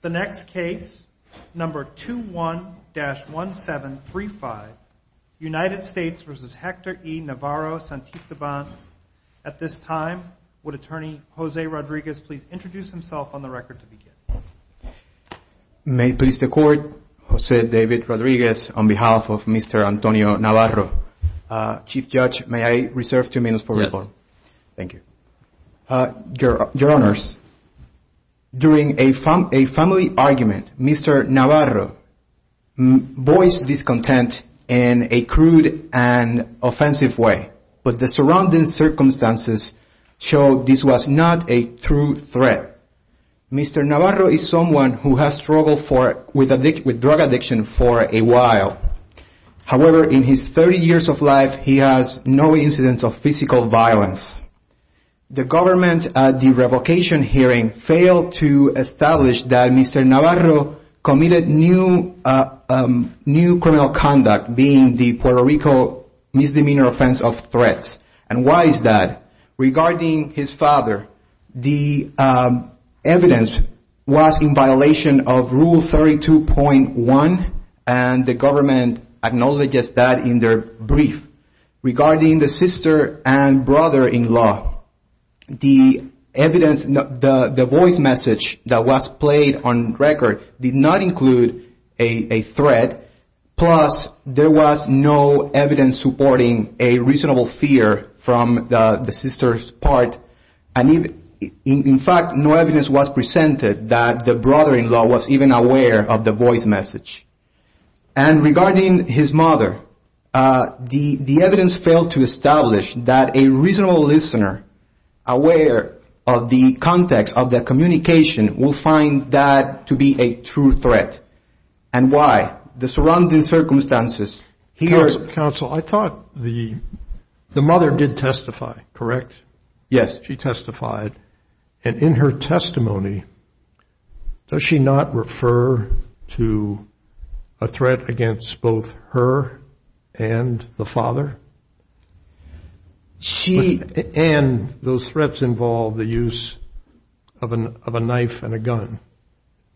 The next case, number 21-1735, United States v. Hector E. Navarro-Santisteban. At this time, would Attorney Jose Rodriguez please introduce himself on the record to begin? May it please the Court, Jose David Rodriguez on behalf of Mr. Antonio Navarro. Chief Judge, may I reserve two minutes for report? Yes. Thank you. Your Honors, during a family argument, Mr. Navarro voiced discontent in a crude and offensive way, but the surrounding circumstances showed this was not a true threat. Mr. Navarro is someone who has struggled with drug addiction for a while. However, in his 30 years of life, he has no incidents of physical violence. The government, at the revocation hearing, failed to establish that Mr. Navarro committed new criminal conduct, being the Puerto Rico misdemeanor offense of threats. And why is that? Regarding his father, the evidence was in violation of Rule 32.1, and the government acknowledges that in their brief. Regarding the sister and brother-in-law, the voice message that was played on record did not include a threat, plus there was no evidence supporting a reasonable fear from the sister's part. In fact, no evidence was presented that the brother-in-law was even aware of the voice message. And regarding his mother, the evidence failed to establish that a reasonable listener, aware of the context of the communication, will find that to be a true threat. And why? The surrounding circumstances. Here... Counsel, I thought the mother did testify, correct? Yes. She testified. And in her testimony, does she not refer to a threat against both her and the father? She... And those threats involve the use of a knife and a gun.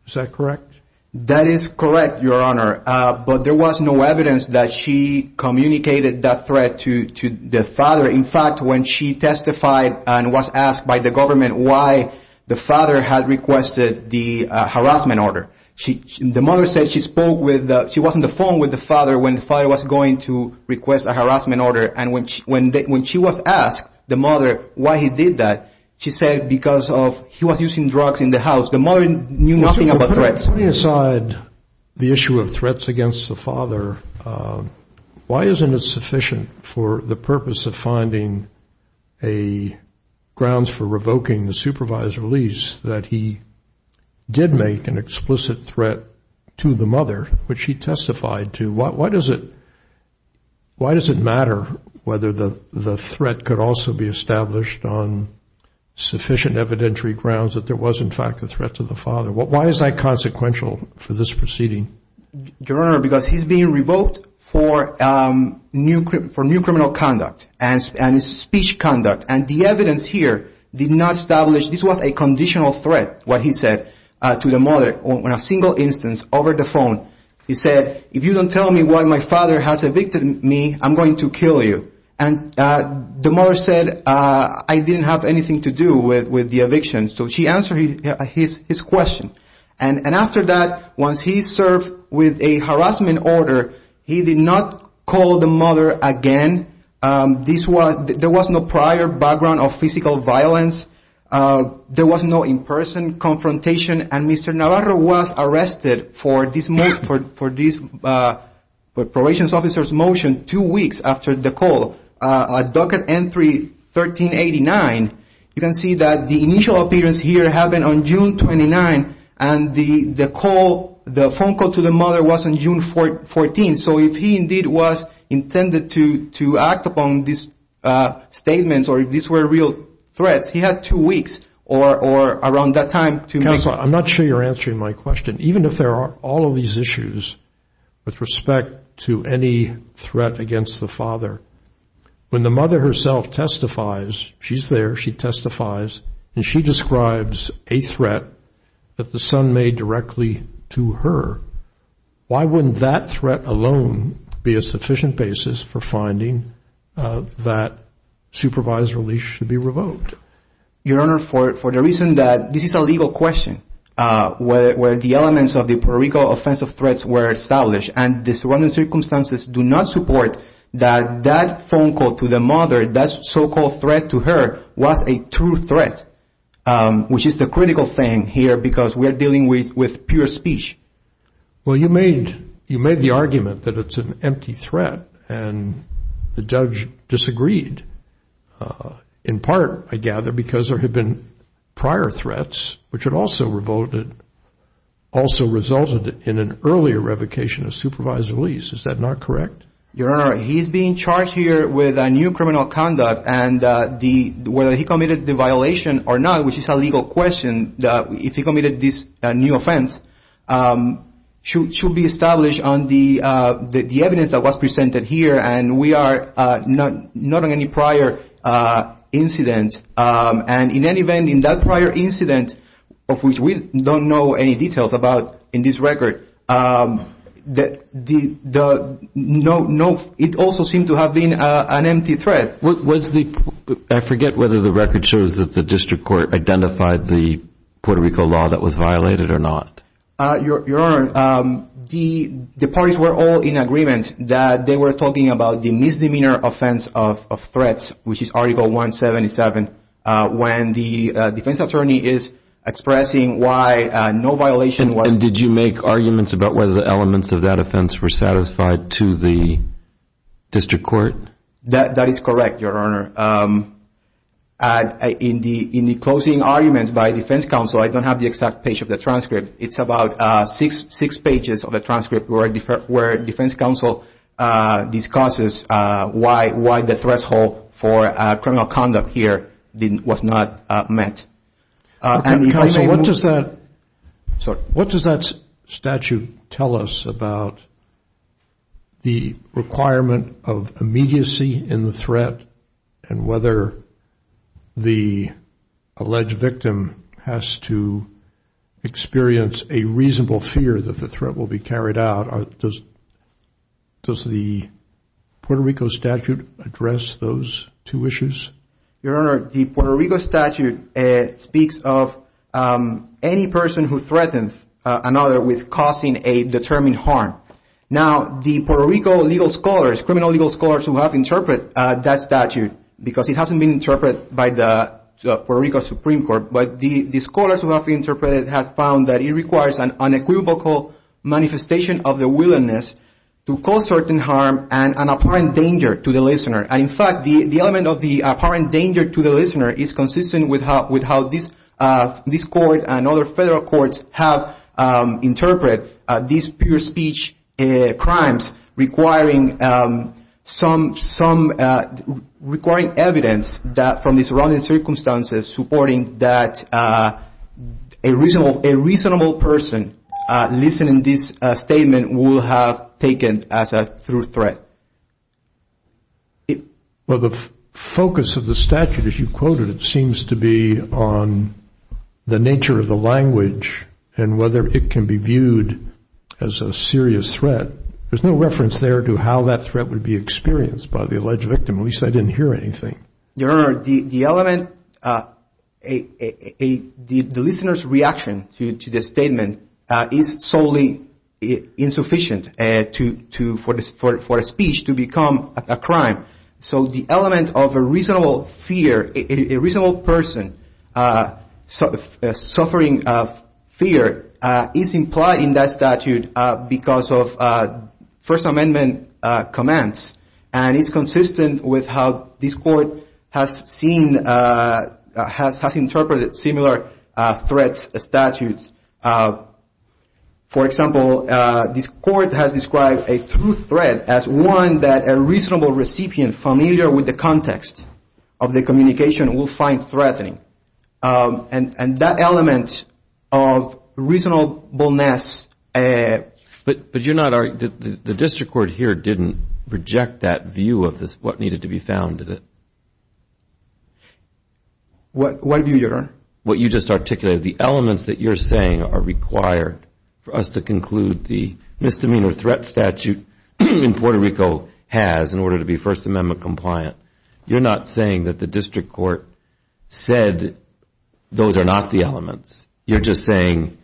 Is that correct? That is correct, Your Honor. But there was no evidence that she communicated that threat to the father. In fact, when she testified and was asked by the government why the father had requested the harassment order, the mother said she spoke with, she was on the phone with the harassment order. And when she was asked, the mother, why he did that, she said because he was using drugs in the house. The mother knew nothing about threats. Counselor, putting aside the issue of threats against the father, why isn't it sufficient for the purpose of finding grounds for revoking the supervisor's release that he did make an explicit threat to the mother, which he testified to? Why does it matter whether the threat could also be established on sufficient evidentiary grounds that there was, in fact, a threat to the father? Why is that consequential for this proceeding? Your Honor, because he's being revoked for new criminal conduct and speech conduct. And the evidence here did not establish this was a conditional threat, what he said to the mother. The mother testified on a single instance over the phone. He said, if you don't tell me why my father has evicted me, I'm going to kill you. And the mother said, I didn't have anything to do with the eviction. So she answered his question. And after that, once he served with a harassment order, he did not call the mother again. There was no prior background of physical violence. There was no in-person confrontation. And Mr. Navarro was arrested for this probation officer's motion two weeks after the call. At docket N3-1389, you can see that the initial appearance here happened on June 29. And the phone call to the mother was on June 14. So if he indeed was intended to act upon these statements or if these were real threats, he had two weeks or around that time. Counselor, I'm not sure you're answering my question. Even if there are all of these issues with respect to any threat against the father, when the mother herself testifies, she's there, she testifies, and she describes a threat that the son made directly to her, why wouldn't that threat alone be a sufficient basis for finding that supervised release should be revoked? Your Honor, for the reason that this is a legal question, where the elements of the periodical offensive threats were established and the surrounding circumstances do not support that that phone call to the mother, that so-called threat to her, was a true threat, which is the critical thing here because we are dealing with pure speech. Well, you made the argument that it's an empty threat and the judge disagreed, in part, I gather, because there had been prior threats which had also resulted in an earlier revocation of supervised release. Is that not correct? Your Honor, he's being charged here with a new criminal conduct and whether he committed the violation or not, which is a legal question, if he committed this new offense, should be established on the evidence that was presented here and we are not on any prior incident. And in any event, in that prior incident, of which we don't know any details about in this record, it also seemed to have been an empty threat. I forget whether the record shows that the district court identified the Puerto Rico law that was violated or not. Your Honor, the parties were all in agreement that they were talking about the misdemeanor offense of threats, which is Article 177, when the defense attorney is expressing why no violation was... And did you make arguments about whether the elements of that offense were satisfied to the district court? That is correct, Your Honor. In the closing arguments by defense counsel, I don't have the exact page of the transcript. It's about six pages of the transcript where defense counsel discusses why the threshold for criminal conduct here was not met. Counsel, what does that statute tell us about the requirement of immediacy in the threat and whether the alleged victim has to experience a reasonable fear that the threat will be carried out? Does the Puerto Rico statute address those two issues? Your Honor, the Puerto Rico statute speaks of any person who threatens another with causing a determined harm. Now, the Puerto Rico legal scholars, criminal legal scholars who have interpreted that statute, because it hasn't been interpreted by the Puerto Rico Supreme Court, but the scholars who have interpreted it have found that it requires an unequivocal manifestation of the willingness to cause certain harm and an apparent danger to the listener. And, in fact, the element of the apparent danger to the listener is consistent with how this court and other federal courts have interpreted these pure speech crimes requiring evidence from the surrounding circumstances supporting that a reasonable person listening to this statement will have taken as a true threat. Well, the focus of the statute, as you quoted, seems to be on the nature of the language and whether it can be viewed as a serious threat. There's no reference there to how that threat would be experienced by the alleged victim. At least I didn't hear anything. Your Honor, the element, the listener's reaction to the statement is solely insufficient for a speech to become a crime. So the element of a reasonable fear, a reasonable person suffering fear is implied in that statute because of First Amendment commands. And it's consistent with how this court has seen, has interpreted similar threat statutes. For example, this court has described a true threat as one that a reasonable recipient familiar with the context of the communication will find threatening. And that element of reasonableness. But you're not, the district court here didn't reject that view of what needed to be found, did it? What view, Your Honor? What you just articulated. The elements that you're saying are required for us to conclude the misdemeanor threat statute in Puerto Rico has in order to be First Amendment compliant. You're not saying that the district court said those are not the elements. You're just saying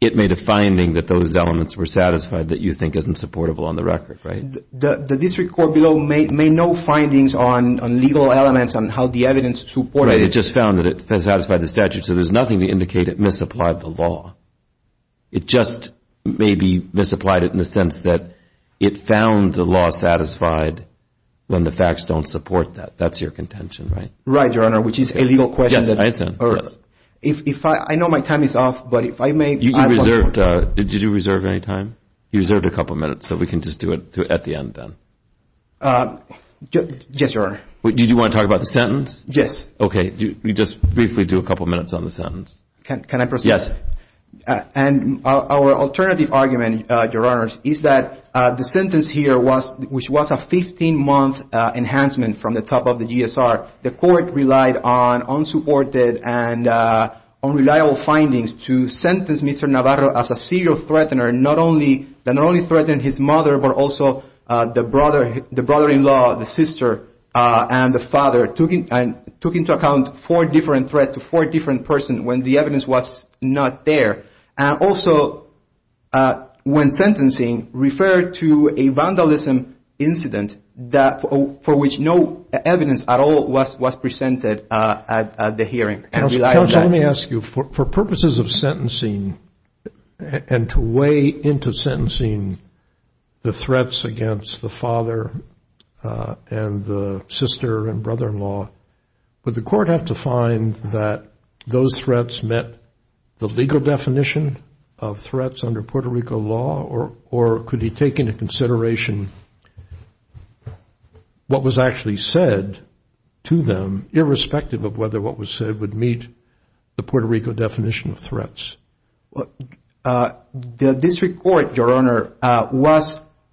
it made a finding that those elements were satisfied that you think isn't supportable on the record, right? The district court below made no findings on legal elements on how the evidence supported it. Right, it just found that it satisfied the statute. So there's nothing to indicate it misapplied the law. It just maybe misapplied it in the sense that it found the law satisfied when the facts don't support that. That's your contention, right? Right, Your Honor, which is a legal question. I know my time is up, but if I may. Did you reserve any time? You reserved a couple minutes, so we can just do it at the end then. Yes, Your Honor. Did you want to talk about the sentence? Yes. Okay, just briefly do a couple minutes on the sentence. Can I proceed? Yes. And our alternative argument, Your Honor, is that the sentence here was a 15-month enhancement from the top of the GSR. The court relied on unsupported and unreliable findings to sentence Mr. Navarro as a serial threatener, that not only threatened his mother, but also the brother-in-law, the sister, and the father, and took into account four different threats to four different persons when the evidence was not there. And also when sentencing referred to a vandalism incident for which no evidence at all was presented at the hearing. Counsel, let me ask you, for purposes of sentencing and to weigh into sentencing the threats against the father and the sister and brother-in-law, would the court have to find that those threats met the legal definition of threats under Puerto Rico law, or could he take into consideration what was actually said to them, irrespective of whether what was said would meet the Puerto Rico definition of threats? The district court, Your Honor,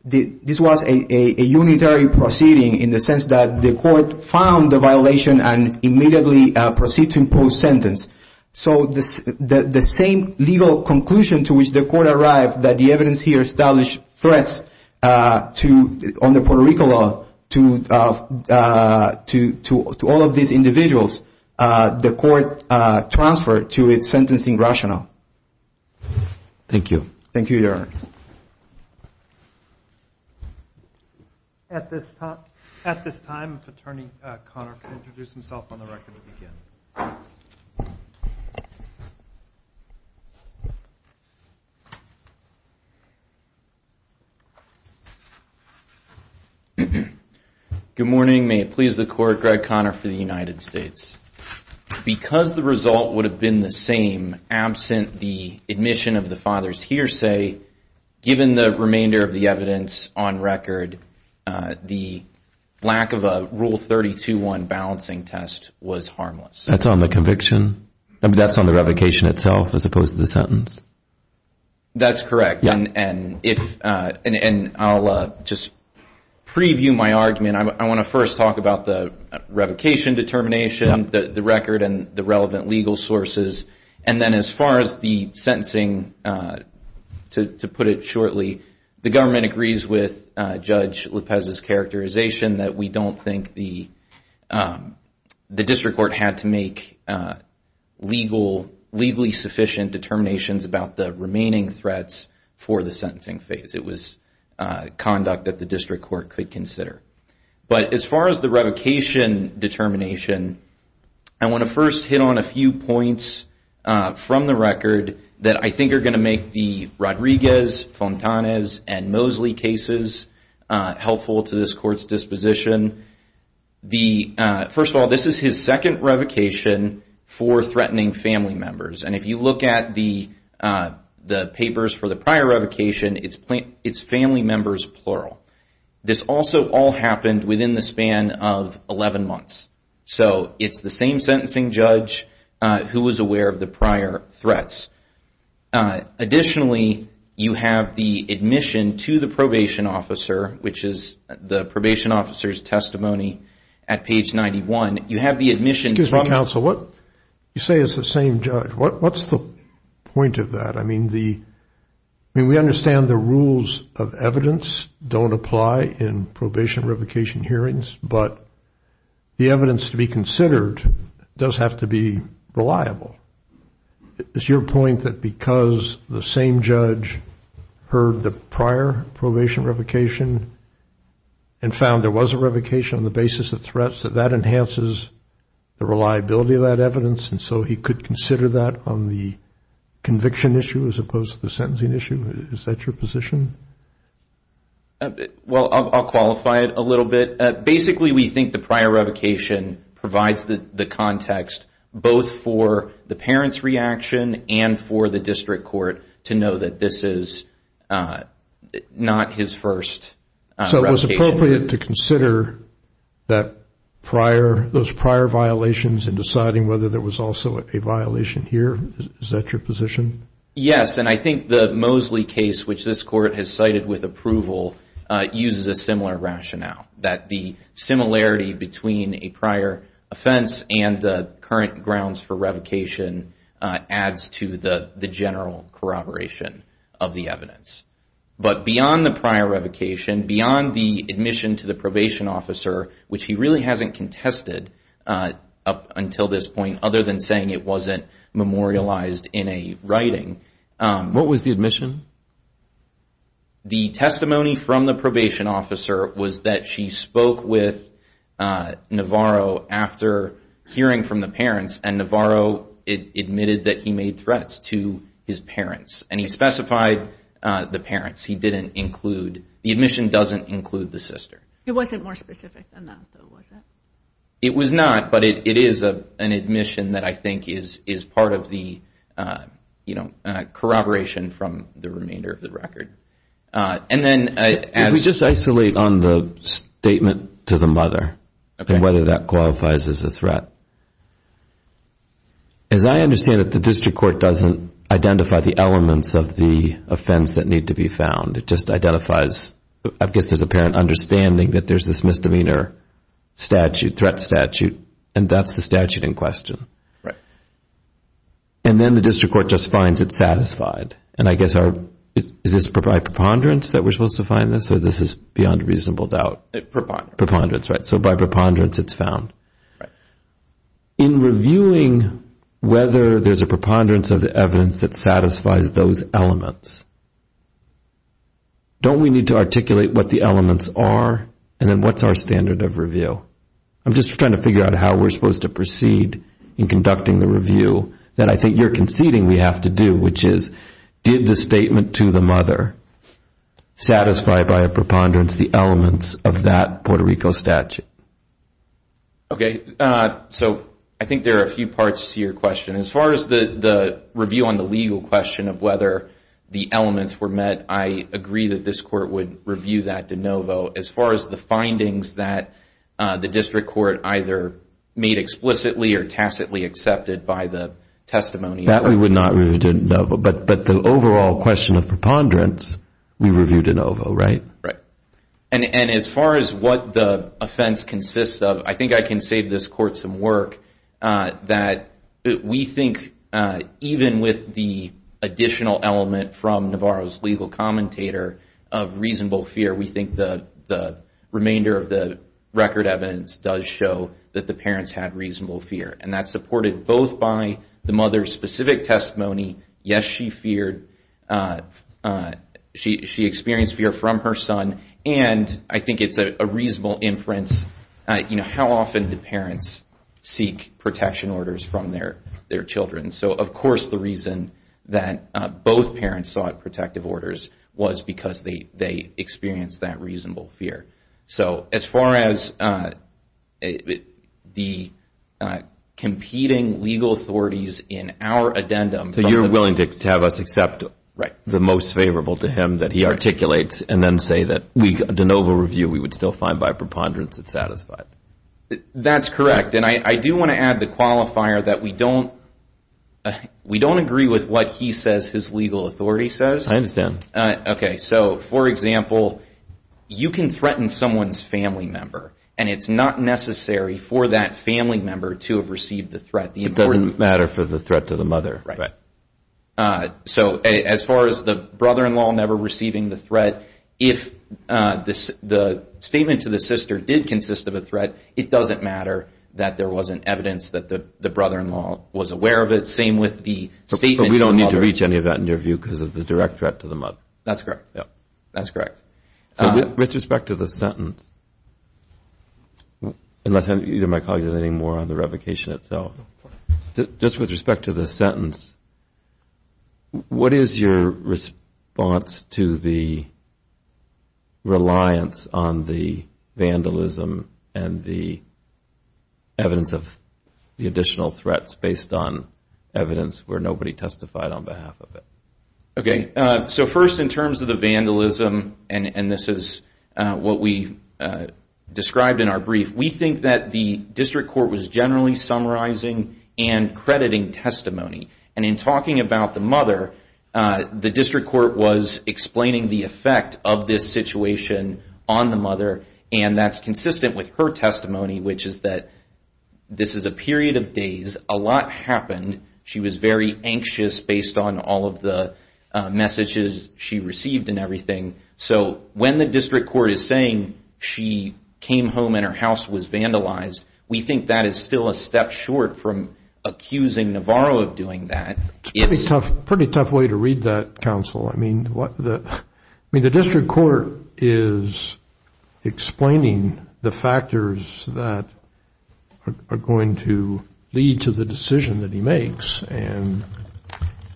this was a unitary proceeding in the sense that the court found the violation and immediately proceeded to impose sentence. So the same legal conclusion to which the court arrived that the evidence here established threats under Puerto Rico law to all of these individuals, the court transferred to its sentencing rationale. Thank you. Thank you, Your Honor. At this time, Attorney Conner can introduce himself on the record again. Good morning. May it please the Court, Greg Conner for the United States. Because the result would have been the same, absent the admission of the father's hearsay, given the remainder of the evidence on record, the lack of a Rule 32-1 balancing test was harmless. That's on the conviction? That's on the revocation itself as opposed to the sentence? That's correct. And I'll just preview my argument. I want to first talk about the revocation determination, the record, and the relevant legal sources. And then as far as the sentencing, to put it shortly, the government agrees with Judge Lopez's characterization that we don't think the district court had to make legally sufficient determinations about the remaining threats for the sentencing phase. It was conduct that the district court could consider. But as far as the revocation determination, I want to first hit on a few points from the record that I think are going to make the Rodriguez, Fontanez, and Mosley cases helpful to this Court's disposition. First of all, this is his second revocation for threatening family members. And if you look at the papers for the prior revocation, it's family members plural. This also all happened within the span of 11 months. So it's the same sentencing judge who was aware of the prior threats. Additionally, you have the admission to the probation officer, which is the probation officer's testimony at page 91. You have the admission. Excuse me, counsel. You say it's the same judge. What's the point of that? I mean, we understand the rules of evidence don't apply in probation revocation hearings, but the evidence to be considered does have to be reliable. Is your point that because the same judge heard the prior probation revocation and found there was a revocation on the basis of threats, that that enhances the reliability of that evidence and so he could consider that on the conviction issue as opposed to the sentencing issue? Is that your position? Well, I'll qualify it a little bit. Basically, we think the prior revocation provides the context both for the parent's reaction and for the district court to know that this is not his first revocation. So it was appropriate to consider those prior violations in deciding whether there was also a violation here? Is that your position? Yes, and I think the Mosley case, which this court has cited with approval, uses a similar rationale that the similarity between a prior offense and the current grounds for revocation adds to the general corroboration of the evidence. But beyond the prior revocation, beyond the admission to the probation officer, which he really hasn't contested up until this point, other than saying it wasn't memorialized in a writing. What was the admission? The testimony from the probation officer was that she spoke with Navarro after hearing from the parents and Navarro admitted that he made threats to his parents. And he specified the parents. He didn't include, the admission doesn't include the sister. It wasn't more specific than that, though, was it? It was not, but it is an admission that I think is part of the, you know, corroboration from the remainder of the record. Can we just isolate on the statement to the mother and whether that qualifies as a threat? As I understand it, the district court doesn't identify the elements of the offense that need to be found. It just identifies, I guess there's an apparent understanding that there's this misdemeanor statute, threat statute, and that's the statute in question. Right. And then the district court just finds it satisfied. And I guess, is this by preponderance that we're supposed to find this, or this is beyond reasonable doubt? Preponderance. Preponderance, right. So by preponderance it's found. Right. In reviewing whether there's a preponderance of the evidence that satisfies those elements, don't we need to articulate what the elements are and then what's our standard of review? I'm just trying to figure out how we're supposed to proceed in conducting the review that I think you're conceding we have to do, which is did the statement to the mother satisfy by a preponderance the elements of that Puerto Rico statute? Okay. So I think there are a few parts to your question. As far as the review on the legal question of whether the elements were met, I agree that this court would review that de novo. As far as the findings that the district court either made explicitly or tacitly accepted by the testimony. That we would not review de novo, but the overall question of preponderance we reviewed de novo, right? Right. And as far as what the offense consists of, I think I can save this court some work that we think even with the additional element from Navarro's legal commentator of reasonable fear, we think the remainder of the record evidence does show that the parents had reasonable fear, and that's supported both by the mother's specific testimony. Yes, she feared. She experienced fear from her son, and I think it's a reasonable inference. You know, how often do parents seek protection orders from their children? So of course the reason that both parents sought protective orders was because they experienced that reasonable fear. So as far as the competing legal authorities in our addendum. So you're willing to have us accept the most favorable to him that he articulates, and then say that de novo review we would still find by preponderance it's satisfied. That's correct, and I do want to add the qualifier that we don't agree with what he says his legal authority says. I understand. Okay, so for example, you can threaten someone's family member, and it's not necessary for that family member to have received the threat. It doesn't matter for the threat to the mother. Right. So as far as the brother-in-law never receiving the threat, if the statement to the sister did consist of a threat, it doesn't matter that there wasn't evidence that the brother-in-law was aware of it. Same with the statement to the mother. I can't reach any of that in your view because of the direct threat to the mother. That's correct. Yep. That's correct. So with respect to the sentence, unless either of my colleagues has anything more on the revocation itself, just with respect to the sentence, what is your response to the reliance on the vandalism and the evidence of the additional threats based on evidence where nobody testified on behalf of it? Okay, so first in terms of the vandalism, and this is what we described in our brief, we think that the district court was generally summarizing and crediting testimony. And in talking about the mother, the district court was explaining the effect of this situation on the mother, and that's consistent with her testimony, which is that this is a period of days. A lot happened. She was very anxious based on all of the messages she received and everything. So when the district court is saying she came home and her house was vandalized, we think that is still a step short from accusing Navarro of doing that. It's a pretty tough way to read that, counsel. I mean, the district court is explaining the factors that are going to lead to the decision that he makes, and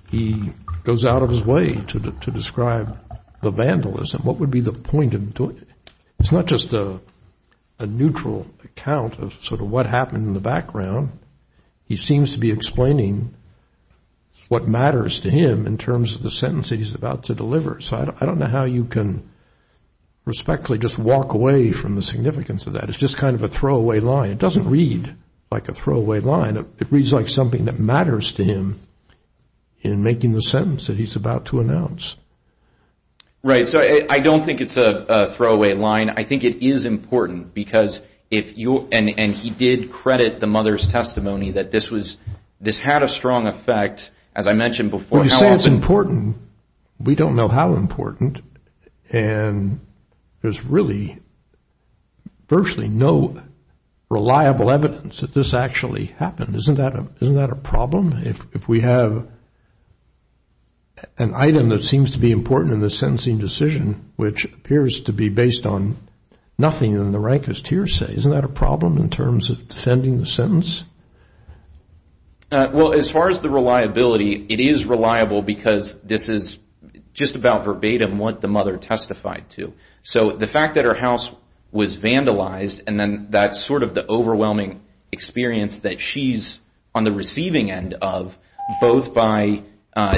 he goes out of his way to describe the vandalism. What would be the point of doing it? It's not just a neutral account of sort of what happened in the background. He seems to be explaining what matters to him in terms of the sentence that he's about to deliver. So I don't know how you can respectfully just walk away from the significance of that. It's just kind of a throwaway line. It doesn't read like a throwaway line. It reads like something that matters to him in making the sentence that he's about to announce. Right. So I don't think it's a throwaway line. I think it is important, and he did credit the mother's testimony that this had a strong effect, as I mentioned before. When you say it's important, we don't know how important, and there's really virtually no reliable evidence that this actually happened. Isn't that a problem? If we have an item that seems to be important in the sentencing decision, which appears to be based on nothing in the rankest hearsay, isn't that a problem in terms of defending the sentence? Well, as far as the reliability, it is reliable because this is just about verbatim what the mother testified to. So the fact that her house was vandalized, and then that's sort of the overwhelming experience that she's on the receiving end of, both by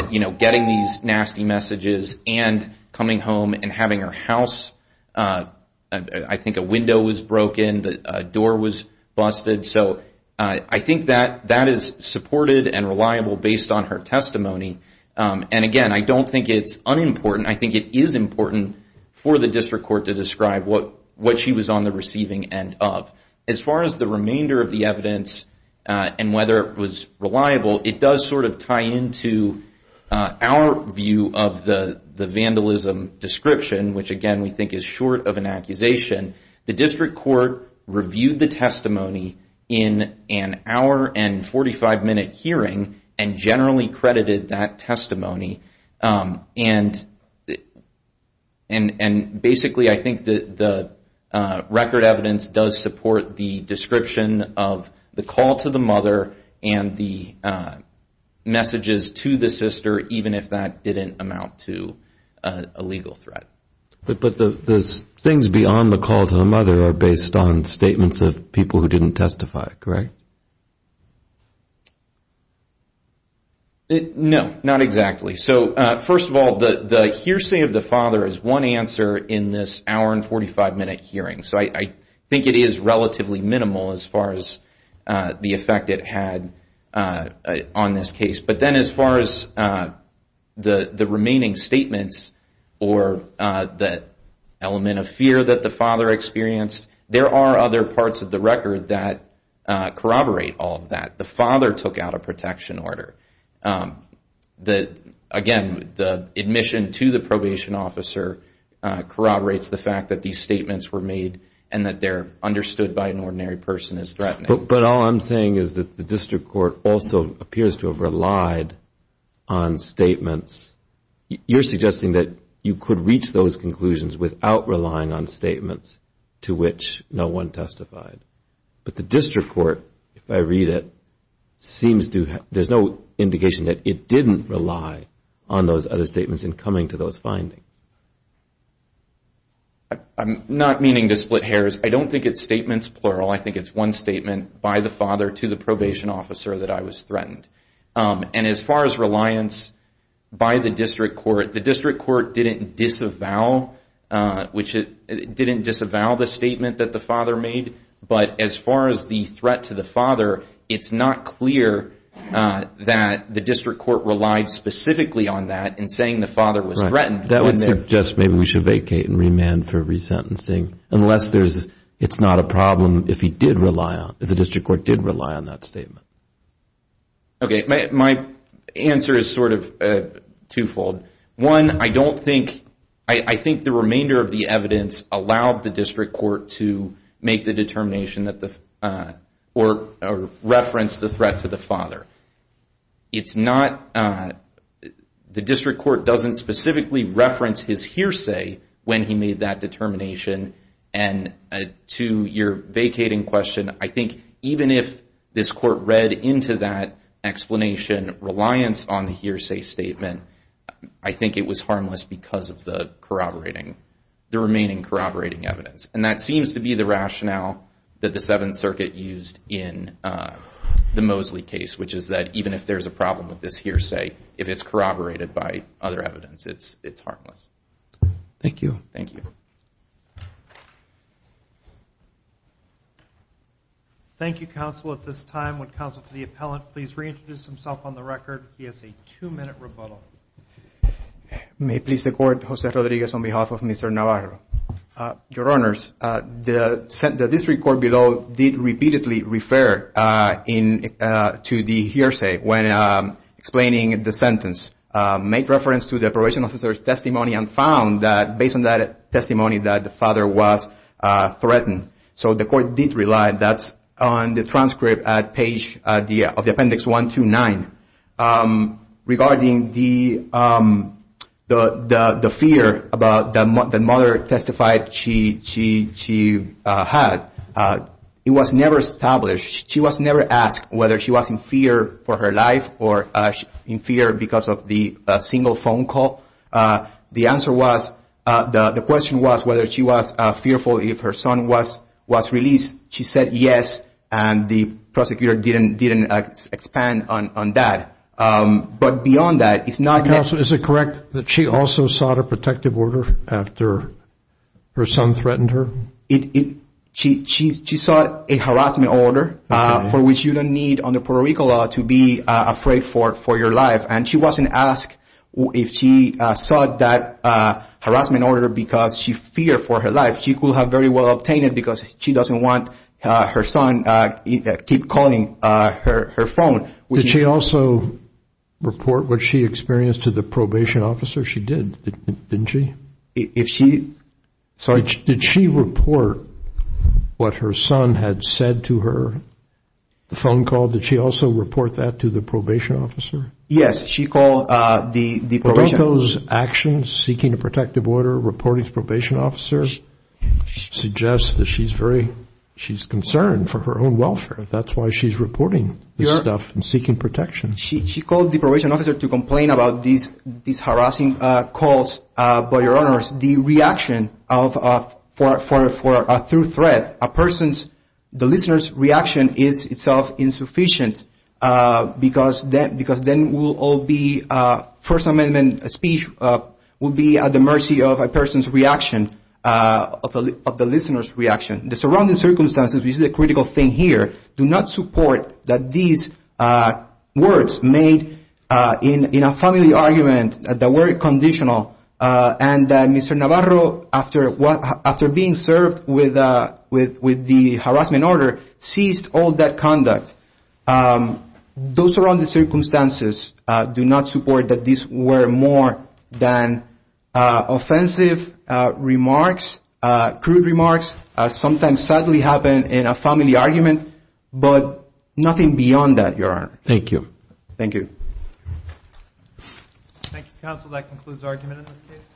getting these nasty messages and coming home and having her house. I think a window was broken. The door was busted. So I think that that is supported and reliable based on her testimony. And again, I don't think it's unimportant. I think it is important for the district court to describe what she was on the receiving end of. As far as the remainder of the evidence and whether it was reliable, it does sort of tie into our view of the vandalism description, which again we think is short of an accusation. The district court reviewed the testimony in an hour and 45-minute hearing and generally credited that testimony. And basically I think the record evidence does support the description of the call to the mother and the messages to the sister even if that didn't amount to a legal threat. But the things beyond the call to the mother are based on statements of people who didn't testify, correct? No, not exactly. So first of all, the hearsay of the father is one answer in this hour and 45-minute hearing. So I think it is relatively minimal as far as the effect it had on this case. But then as far as the remaining statements or the element of fear that the father experienced, there are other parts of the record that corroborate all of that. The father took out a protection order. Again, the admission to the probation officer corroborates the fact that these statements were made and that they're understood by an ordinary person as threatening. But all I'm saying is that the district court also appears to have relied on statements. You're suggesting that you could reach those conclusions without relying on statements to which no one testified. But the district court, if I read it, there's no indication that it didn't rely on those other statements in coming to those findings. I'm not meaning to split hairs. I don't think it's statements plural. I think it's one statement by the father to the probation officer that I was threatened. And as far as reliance by the district court, the district court didn't disavow the statement that the father made, but as far as the threat to the father, it's not clear that the district court relied specifically on that in saying the father was threatened. That would suggest maybe we should vacate and remand for resentencing, unless it's not a problem if the district court did rely on that statement. Okay, my answer is sort of twofold. One, I don't think, I think the remainder of the evidence allowed the district court to make the determination or reference the threat to the father. It's not, the district court doesn't specifically reference his hearsay when he made that determination. And to your vacating question, I think even if this court read into that explanation reliance on the hearsay statement, I think it was harmless because of the corroborating, the remaining corroborating evidence. And that seems to be the rationale that the Seventh Circuit used in the Mosley case, which is that even if there's a problem with this hearsay, if it's corroborated by other evidence, it's harmless. Thank you. Thank you. Thank you, counsel. At this time, would counsel for the appellant please reintroduce himself on the record. He has a two-minute rebuttal. May it please the Court, Jose Rodriguez on behalf of Mr. Navarro. Your Honors, the district court below did repeatedly refer to the hearsay when explaining the sentence, made reference to the probation officer's testimony and found that based on that testimony that the father was threatened. So the court did rely, that's on the transcript at page of the appendix 129. Regarding the fear that the mother testified she had, it was never established. She was never asked whether she was in fear for her life or in fear because of the single phone call. The answer was, the question was whether she was fearful if her son was released. She said yes, and the prosecutor didn't expand on that. But beyond that, it's not that. Counsel, is it correct that she also sought a protective order after her son threatened her? She sought a harassment order for which you don't need under Puerto Rico law to be afraid for your life. And she wasn't asked if she sought that harassment order because she feared for her life. She could have very well obtained it because she doesn't want her son to keep calling her phone. Did she also report what she experienced to the probation officer? She did, didn't she? Did she report what her son had said to her, the phone call? Did she also report that to the probation officer? Yes, she called the probation officer. Well, don't those actions, seeking a protective order, reporting to probation officers, suggest that she's concerned for her own welfare? That's why she's reporting this stuff and seeking protection. She called the probation officer to complain about these harassing calls, but, Your Honors, the reaction for a true threat, a person's, the listener's reaction is itself insufficient because then we'll all be, First Amendment speech will be at the mercy of a person's reaction, of the listener's reaction. The surrounding circumstances, which is a critical thing here, do not support that these words made in a family argument that were conditional and that Mr. Navarro, after being served with the harassment order, ceased all that conduct. Those surrounding circumstances do not support that these were more than offensive remarks, crude remarks, sometimes sadly happen in a family argument, but nothing beyond that, Your Honor. Thank you. Thank you. Thank you, counsel. That concludes argument in this case.